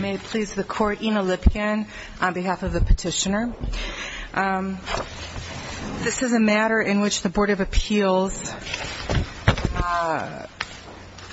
May it please the Court, Ina Lipkin on behalf of the petitioner. This is a matter in which the Board of Appeals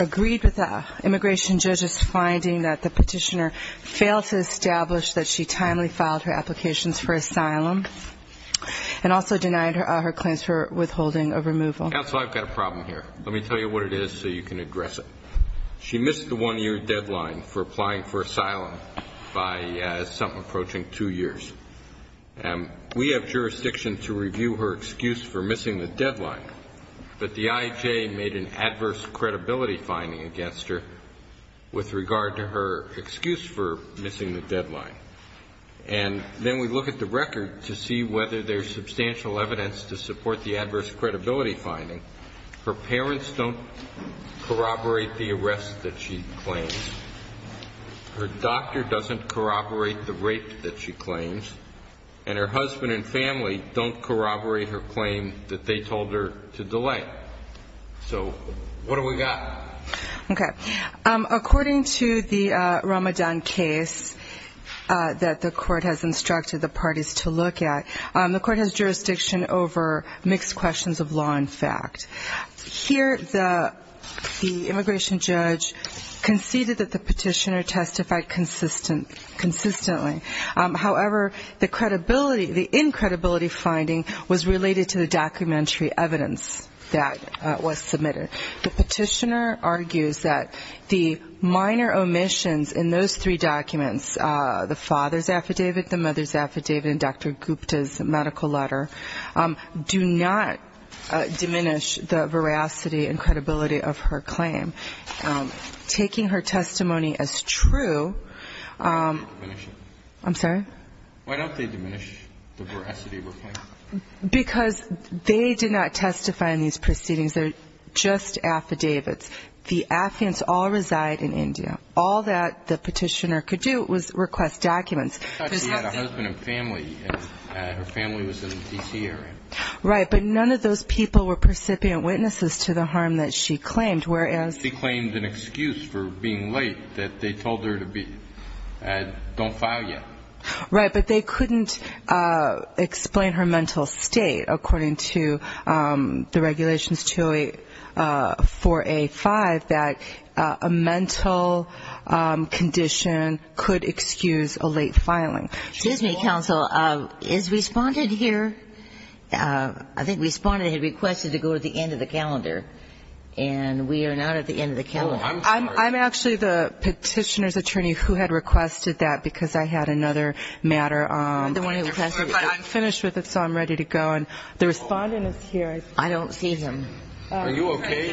agreed with the immigration judge's finding that the petitioner failed to establish that she timely filed her applications for asylum and also denied her claims for withholding of removal. Counsel, I've got a problem here. Let me tell you what it is so you can address it. She missed the one-year deadline for applying for asylum by something approaching two years. We have jurisdiction to review her excuse for missing the deadline, but the IJ made an adverse credibility finding against her with regard to her excuse for missing the deadline. And then we look at the record to see whether there's substantial evidence to support the adverse credibility finding. Her parents don't corroborate the arrest that she claims. Her doctor doesn't corroborate the rape that she claims. And her husband and family don't corroborate her claim that they told her to delay. So what have we got? Okay. According to the Ramadan case that the Court has instructed the parties to look at, the Court has jurisdiction over mixed questions of law and fact. Here the immigration judge conceded that the petitioner testified consistently. However, the credibility, the incredibility finding was related to the documentary evidence that was submitted. The petitioner argues that the minor omissions in those three documents, the father's affidavit, the mother's affidavit, and Dr. Gupta's medical letter, do not diminish the veracity and credibility of her claim. And taking her testimony as true, I'm sorry? Why don't they diminish the veracity of her claim? Because they did not testify in these proceedings. They're just affidavits. The affidavits all reside in India. All that the petitioner could do was request documents. I thought she had a husband and family, and her family was in the D.C. area. Right. But none of those people were percipient witnesses to the harm that she claimed, whereas she claimed an excuse for being late that they told her to be. Don't file yet. Right. But they couldn't explain her mental state, according to the Regulations 284A.5, that a mental condition could excuse a late filing. Excuse me, counsel. Is Respondent here? I think Respondent had requested to go to the end of the calendar, and we are not at the end of the calendar. So I'm going to ask you to go to the end of the calendar. I'm sorry. I'm actually the petitioner's attorney who had requested that, because I had another matter. I'm finished with it, so I'm ready to go. And the Respondent is here. I don't see him. Are you okay?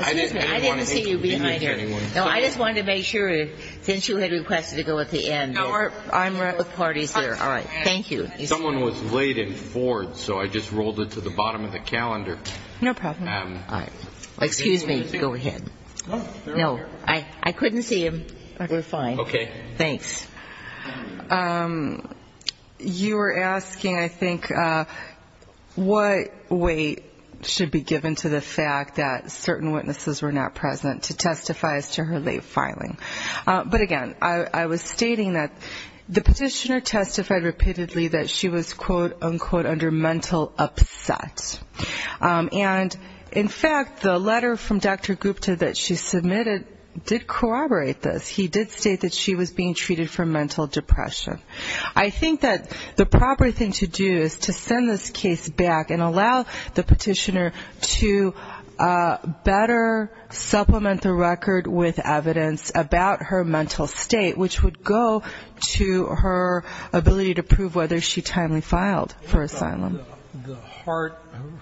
Excuse me. I didn't want to inconvenience anyone. No, I just wanted to make sure, since you had requested to go at the end. I'm with parties there. All right. Thank you. Someone was late in Ford, so I just rolled it to the bottom of the calendar. No problem. All right. Excuse me. Go ahead. No, I couldn't see him. We're fine. Okay. Thanks. You were asking, I think, what weight should be given to the fact that certain witnesses were not present to testify as to her late filing. But again, I was stating that the petitioner testified repeatedly that she was, quote, unquote, under mental upset. And in fact, the letter from Dr. Gupta that she submitted did corroborate this. He did state that she was being treated for mental depression. I think that the proper thing to do is to send this case back and allow the petitioner to better supplement the record with evidence about her mental state, which would go to her ability to prove whether she timely filed for asylum. The heart,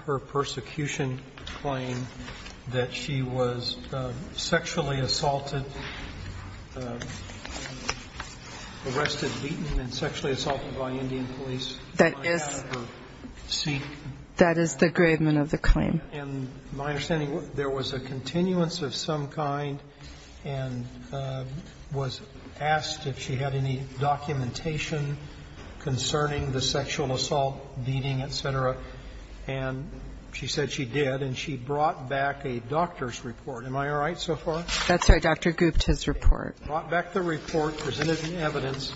her persecution claim that she was sexually assaulted, arrested, beaten, and sexually assaulted by Indian police. That is the gravement of the claim. And my understanding, there was a continuance of some kind and was asked if she had any documentation concerning the sexual assault, beating, et cetera. And she said she did, and she brought back a doctor's report. Am I all right so far? That's right. Dr. Gupta's report. Brought back the report, presented the evidence,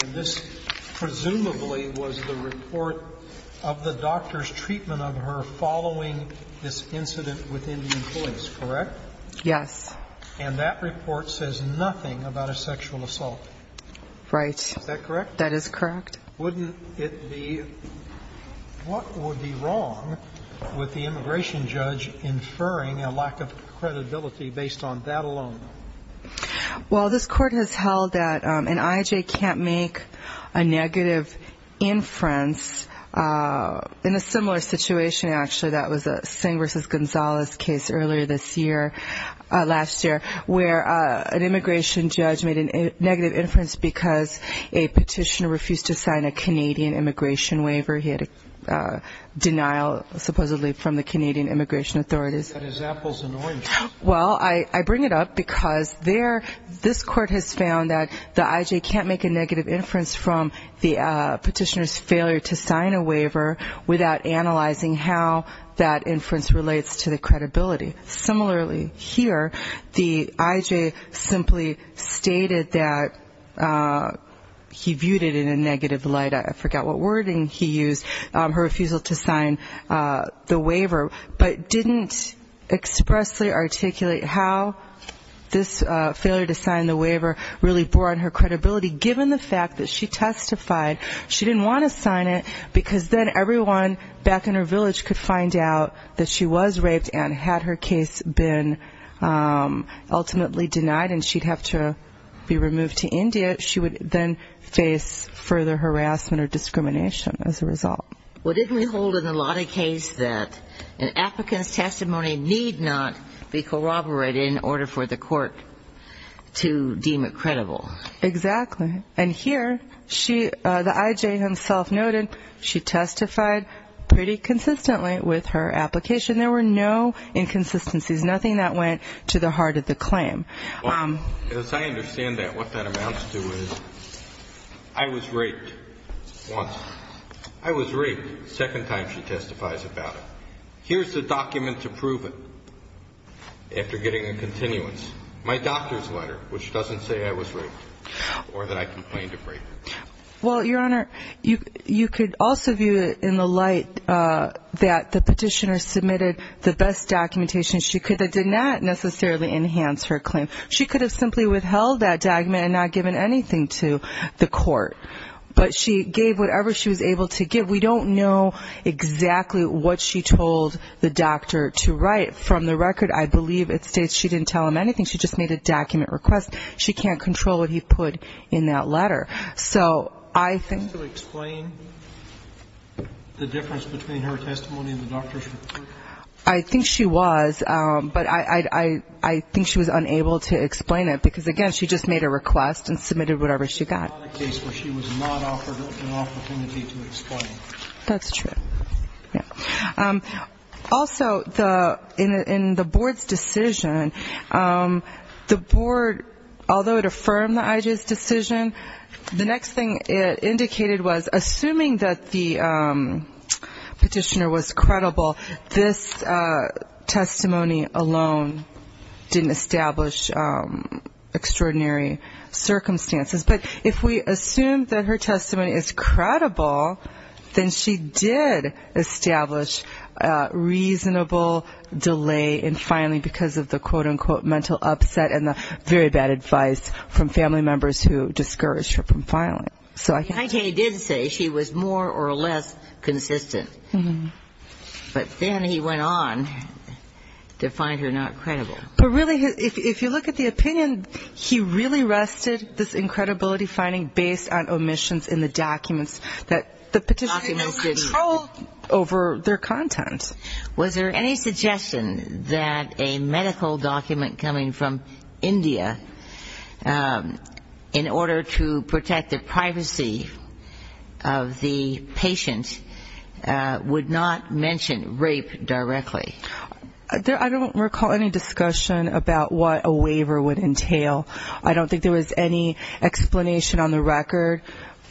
and this presumably was the report of the doctor's treatment of her following this incident with Indian police, correct? Yes. And that report says nothing about a sexual assault. Right. Is that correct? That is correct. Wouldn't it be, what would be wrong with the immigration judge inferring a lack of credibility based on that alone? Well, this court has held that an I.I.J. can't make a negative inference based on the in a similar situation, actually, that was a Singh v. Gonzalez case earlier this year, last year, where an immigration judge made a negative inference because a petitioner refused to sign a Canadian immigration waiver. He had a denial, supposedly, from the Canadian immigration authorities. That is Apple's annoyance. Well, I bring it up because this court has found that the I.I.J. can't make a negative inference to sign a waiver without analyzing how that inference relates to the credibility. Similarly, here, the I.I.J. simply stated that he viewed it in a negative light, I forgot what wording he used, her refusal to sign the waiver, but didn't expressly articulate how this failure to sign the waiver really bore on her credibility, given the fact that she testified. She didn't want to sign it, because then everyone back in her village could find out that she was raped and had her case been ultimately denied and she'd have to be removed to India. She would then face further harassment or discrimination as a result. Well, didn't we hold in the Lottie case that an applicant's testimony need not be corroborated in order for the court to deem it credible? Exactly. And here, the I.I.J. himself noted she testified pretty consistently with her application. There were no inconsistencies, nothing that went to the heart of the claim. As I understand that, what that amounts to is, I was raped once. I was raped the second time she testifies about it. Here's the document to prove it, after getting a continuance. My doctor's letter, which doesn't say I was raped, or that I complained of rape. Well, Your Honor, you could also view it in the light that the petitioner submitted the best documentation she could that did not necessarily enhance her claim. She could have simply withheld that document and not given anything to the court. But she gave whatever she was able to give. We don't know exactly what she told the doctor to write. From the beginning, she just made a document request. She can't control what he put in that letter. Did she explain the difference between her testimony and the doctor's report? I think she was, but I think she was unable to explain it. Because again, she just made a request and submitted whatever she got. That's true. Also, in the board's decision, the board, although it affirmed the IJ's decision, the next thing it indicated was, assuming that the petitioner was credible, this testimony alone didn't establish extraordinary circumstances. But if we assume that her testimony is credible, then she did make a request to the IJ's decision. And she did establish reasonable delay in filing because of the quote-unquote mental upset and the very bad advice from family members who discouraged her from filing. The IJ did say she was more or less consistent. But then he went on to find her not credible. But really, if you look at the opinion, he really rested this incredibility finding based on omissions in the documents that the petitioner submitted. So I think that the IJ's decision was more or less credible over their content. Was there any suggestion that a medical document coming from India, in order to protect the privacy of the patient, would not mention rape directly? I don't recall any discussion about what a waiver would entail. I don't think there was any explanation on the record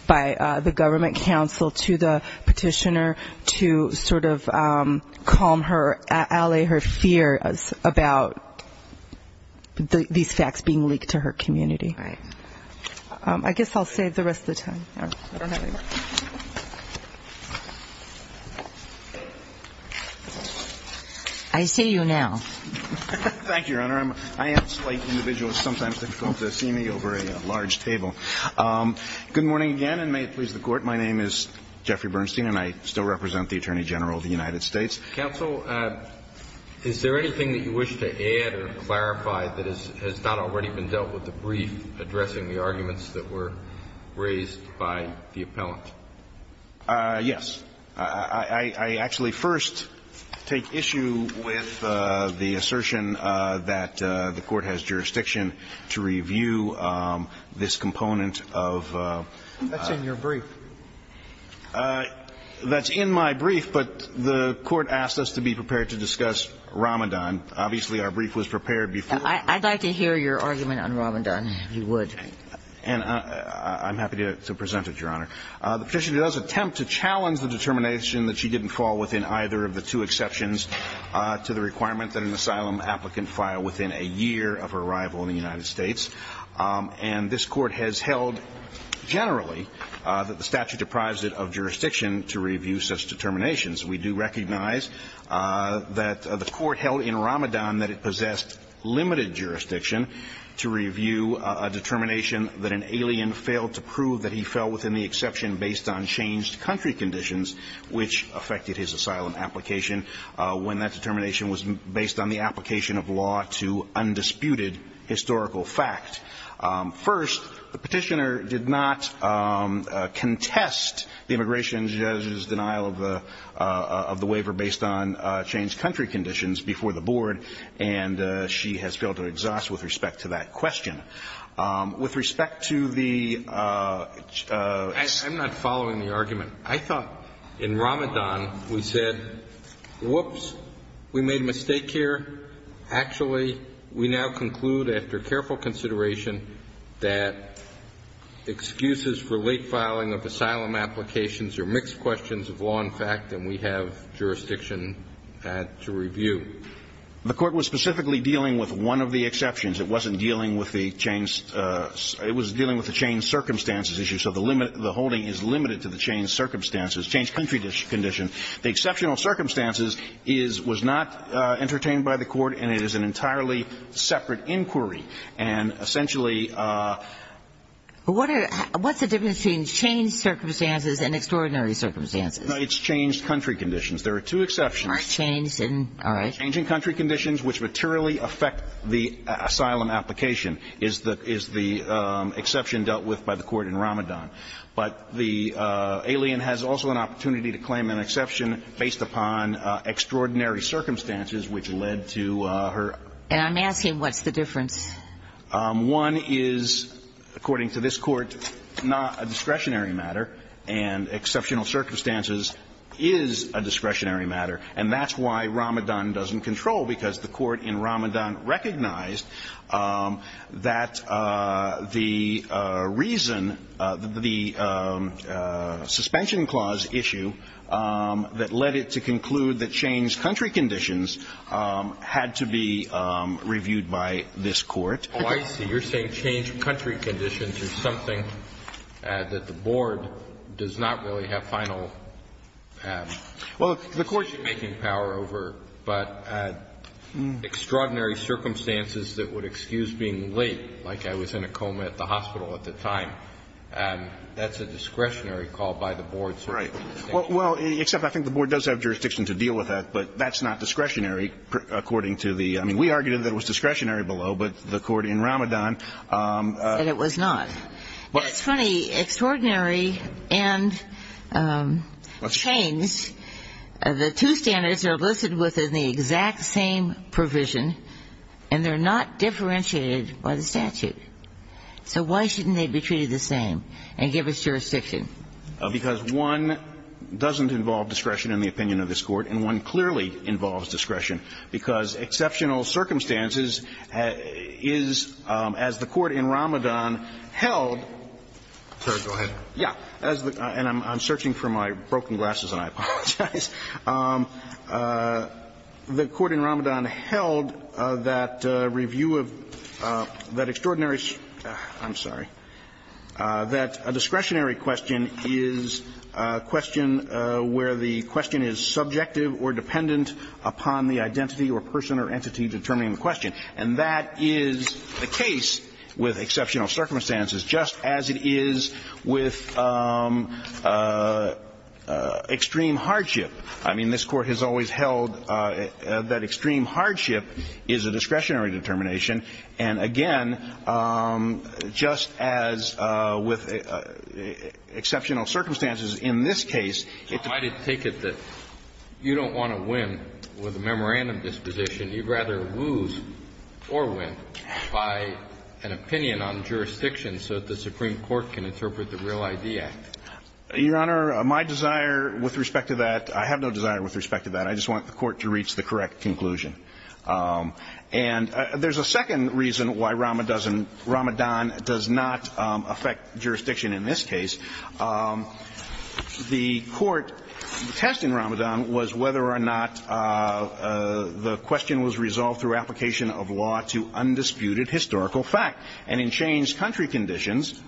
by the government counsel to the petitioner that the IJ's decision was not credible. That would be a very good way to sort of calm her, allay her fears about these facts being leaked to her community. I guess I'll save the rest of the time. I see you now. Thank you, Your Honor. Good morning again, and may it please the Court, my name is Jeffrey Bernstein, and I still represent the Attorney General of the United States. Counsel, is there anything that you wish to add or clarify that has not already been dealt with the brief addressing the arguments that were raised by the appellant? Yes. I would like to make the assertion that the Court has jurisdiction to review this component of the brief. That's in your brief. That's in my brief, but the Court asked us to be prepared to discuss Ramadan. Obviously, our brief was prepared before. I'd like to hear your argument on Ramadan, if you would. I'm happy to present it, Your Honor. The petition does attempt to challenge the determination that she didn't fall within either of the two exceptions to the requirement that an asylum applicant file within a year of arrival in the United States. And this Court has held, generally, that the statute deprives it of jurisdiction to review such determinations. We do recognize that the Court held in Ramadan that it possessed limited jurisdiction to review a determination that the asylum applicant filed within a year of arrival in the United States. We do recognize, however, the determination that an alien failed to prove that he fell within the exception based on changed country conditions, which affected his asylum application, when that determination was based on the application of law to undisputed historical fact. First, the petitioner did not contest the immigration judge's denial of the waiver based on changed country conditions before the Board, and she has failed to exhaust with respect to that question. With respect to the... I'm not following the argument. I thought in Ramadan we said, whoops, we made a mistake here. Actually, we now conclude, after careful consideration, that excuses for late filing of asylum applications are mixed questions of law and fact, and we have jurisdiction to review. The Court was specifically dealing with one of the exceptions. It wasn't dealing with the changed circumstances issue, so the holding is limited to the changed circumstances, changed country conditions. The exceptional circumstances was not entertained by the Court, and it is an entirely separate inquiry, and essentially... What's the difference between changed circumstances and extraordinary circumstances? No, it's changed country conditions. There are two exceptions. All right. Changed country conditions, which materially affect the asylum application, is the exception dealt with by the Court in Ramadan, but the alien has also an opportunity to claim an exception based upon extraordinary circumstances, which led to her... And I'm asking, what's the difference? One is, according to this Court, not a discretionary matter, and exceptional circumstances is a discretionary matter. And that's why Ramadan doesn't control, because the Court in Ramadan recognized that the reason, the suspension clause issue that led it to conclude that changed country conditions had to be reviewed by this Court... Oh, I see. You're saying changed country conditions is something that the Board does not really have final... Well, the Court should be making power over, but extraordinary circumstances that would excuse being late, like I was in a coma at the hospital at the time, that's a discretionary call by the Board, so... Right. Well, except I think the Board does have jurisdiction to deal with that, but that's not discretionary, according to the... I mean, we argued that it was discretionary below, but the Court in Ramadan... That means the two standards are listed within the exact same provision, and they're not differentiated by the statute. So why shouldn't they be treated the same and give us jurisdiction? Because one doesn't involve discretion in the opinion of this Court, and one clearly involves discretion, because exceptional circumstances is, as the Court in Ramadan held... Sorry. Go ahead. Yeah. And I'm searching for my broken glasses, and I apologize. The Court in Ramadan held that review of that extraordinary, I'm sorry, that a discretionary question is a question where the question is subjective or dependent upon the identity or person or entity determining the question, and that is the case with exceptional circumstances, just as it is with extreme hardship. I mean, this Court has always held that extreme hardship is a discretionary determination. And again, just as with exceptional circumstances in this case, it... I take it that you don't want to win with a memorandum disposition. You'd rather lose or win by an opinion on jurisdiction so that the Supreme Court can interpret the Real ID Act. Your Honor, my desire with respect to that, I have no desire with respect to that. I just want the Court to reach the correct conclusion. And there's a second reason why Ramadan does not affect jurisdiction in this case. The Court's test in Ramadan was whether or not the question was subjective or dependent on the identity or person determining the question. And the question was resolved through application of law to undisputed historical fact. And in changed country conditions,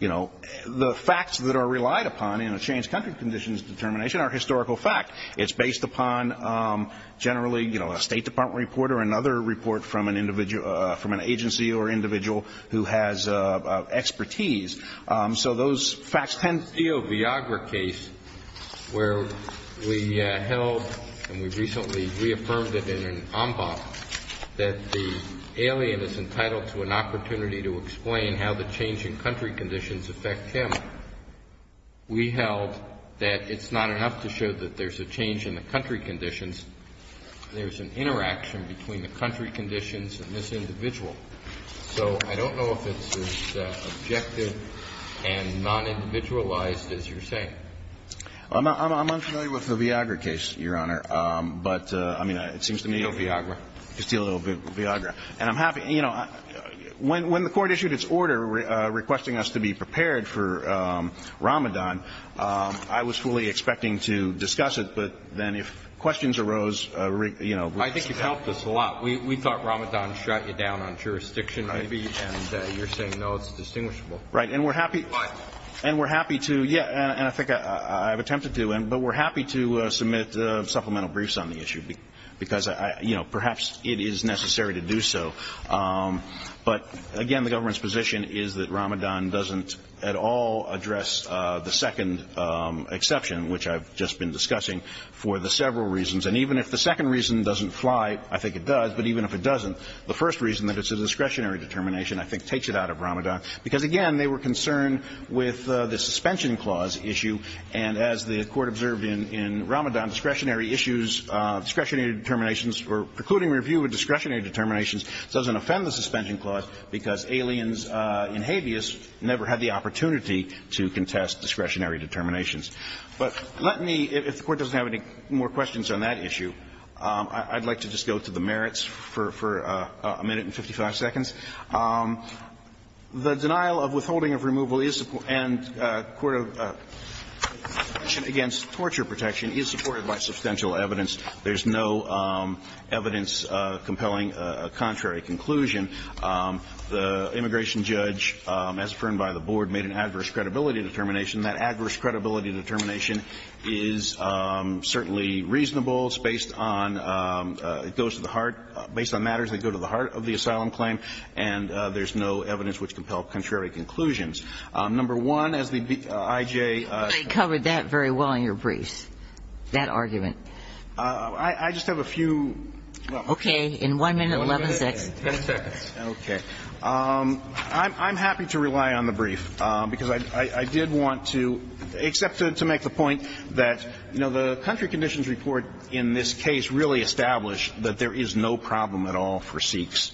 you know, the facts that are relied upon in a changed country conditions determination are historical fact. It's based upon generally, you know, a State Department report or another report from an individual, from an agency or individual who has expertise. So those facts tend... In the Dio Viagra case, where we held and we recently reaffirmed it in an en banc that the alien is entitled to an opportunity to explain how the change in country conditions affect him, we held that it's not enough to show that there's a change in the country conditions. There's an interaction between the country conditions and this individual. So I don't know if it's as objective and non-individualized as you're saying. I'm unfamiliar with the Viagra case, Your Honor. But, I mean, it seems to me... Castillo-Viagra. Castillo-Viagra. And I'm happy, you know, when the Court issued its order requesting us to be prepared for Ramadan, I was fully expecting to discuss it. But then if questions arose, you know... I think you've helped us a lot. We thought Ramadan shut you down on jurisdiction, maybe. And you're saying, no, it's distinguishable. Right. And we're happy... But... And we're happy to... Yeah. And I think I've attempted to. But we're happy to submit supplemental briefs on the issue because, you know, perhaps it is necessary to do so. But, again, the government's position is that Ramadan doesn't at all address the second exception, which I've just been discussing, for the several reasons. And even if the second reason doesn't fly, I think it does. But even if it doesn't, the first reason that it's a discretionary determination I think takes it out of Ramadan. Because, again, they were concerned with the suspension clause issue. And as the Court observed in Ramadan, discretionary issues, discretionary determinations, or precluding review of discretionary determinations doesn't offend the suspension clause because aliens and habeas never had the opportunity to contest discretionary determinations. But let me, if the Court doesn't have any more questions on that issue, I'd like to just go to the merits for a minute and 55 seconds. The denial of withholding of removal and torture protection is supported by substantial evidence. There's no evidence compelling a contrary conclusion. The immigration judge, as affirmed by the Board, made an adverse credibility determination. That adverse credibility determination is certainly reasonable. It's based on, it goes to the heart, based on matters that go to the heart of the asylum claim. And there's no evidence which compels contrary conclusions. Number one, as the I.J. I covered that very well in your briefs, that argument. I just have a few. Okay. In one minute, 11 seconds. Okay. I'm happy to rely on the brief, because I did want to, except to make the point that, you know, the country conditions report in this case really established that there is no problem at all for Sikhs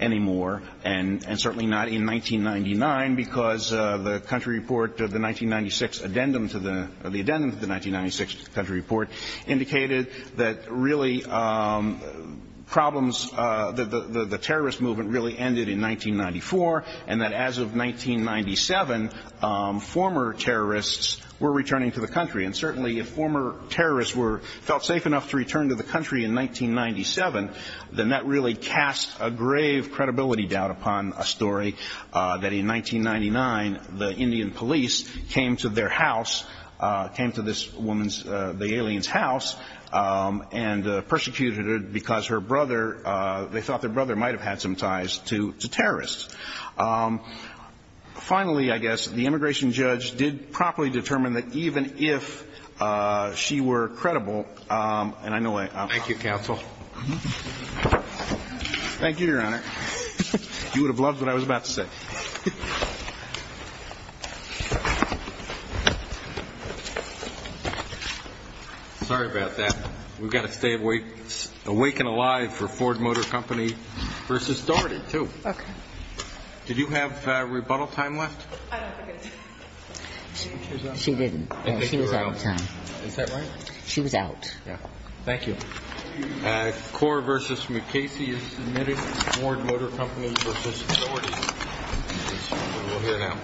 anymore, and certainly not in 1999, because the country report, the 1996 addendum to the 1996 country report indicated that really problems, the terrorist movement really ended in 1994, and that as of 1997, former terrorists were returning to the country. And certainly if former terrorists felt safe enough to return to the country in 1997, then that really cast a grave credibility doubt upon a story that in 1999, the Indian police came to their house, came to this woman's, the alien's house, and persecuted her because her brother, they thought their brother might have had some ties to terrorists. Finally, I guess, the immigration judge did properly determine that even if she were credible, and I know I'm not. Thank you, counsel. Thank you, Your Honor. You would have loved what I was about to say. Sorry about that. We've got to stay awake and alive for Ford Motor Company v. Doherty, too. Okay. Did you have rebuttal time left? I don't think I did. She didn't. She was out of time. Is that right? She was out. Yeah. Thank you. CORE v. McKasey is submitted to Ford Motor Company v. Doherty. We'll hear now.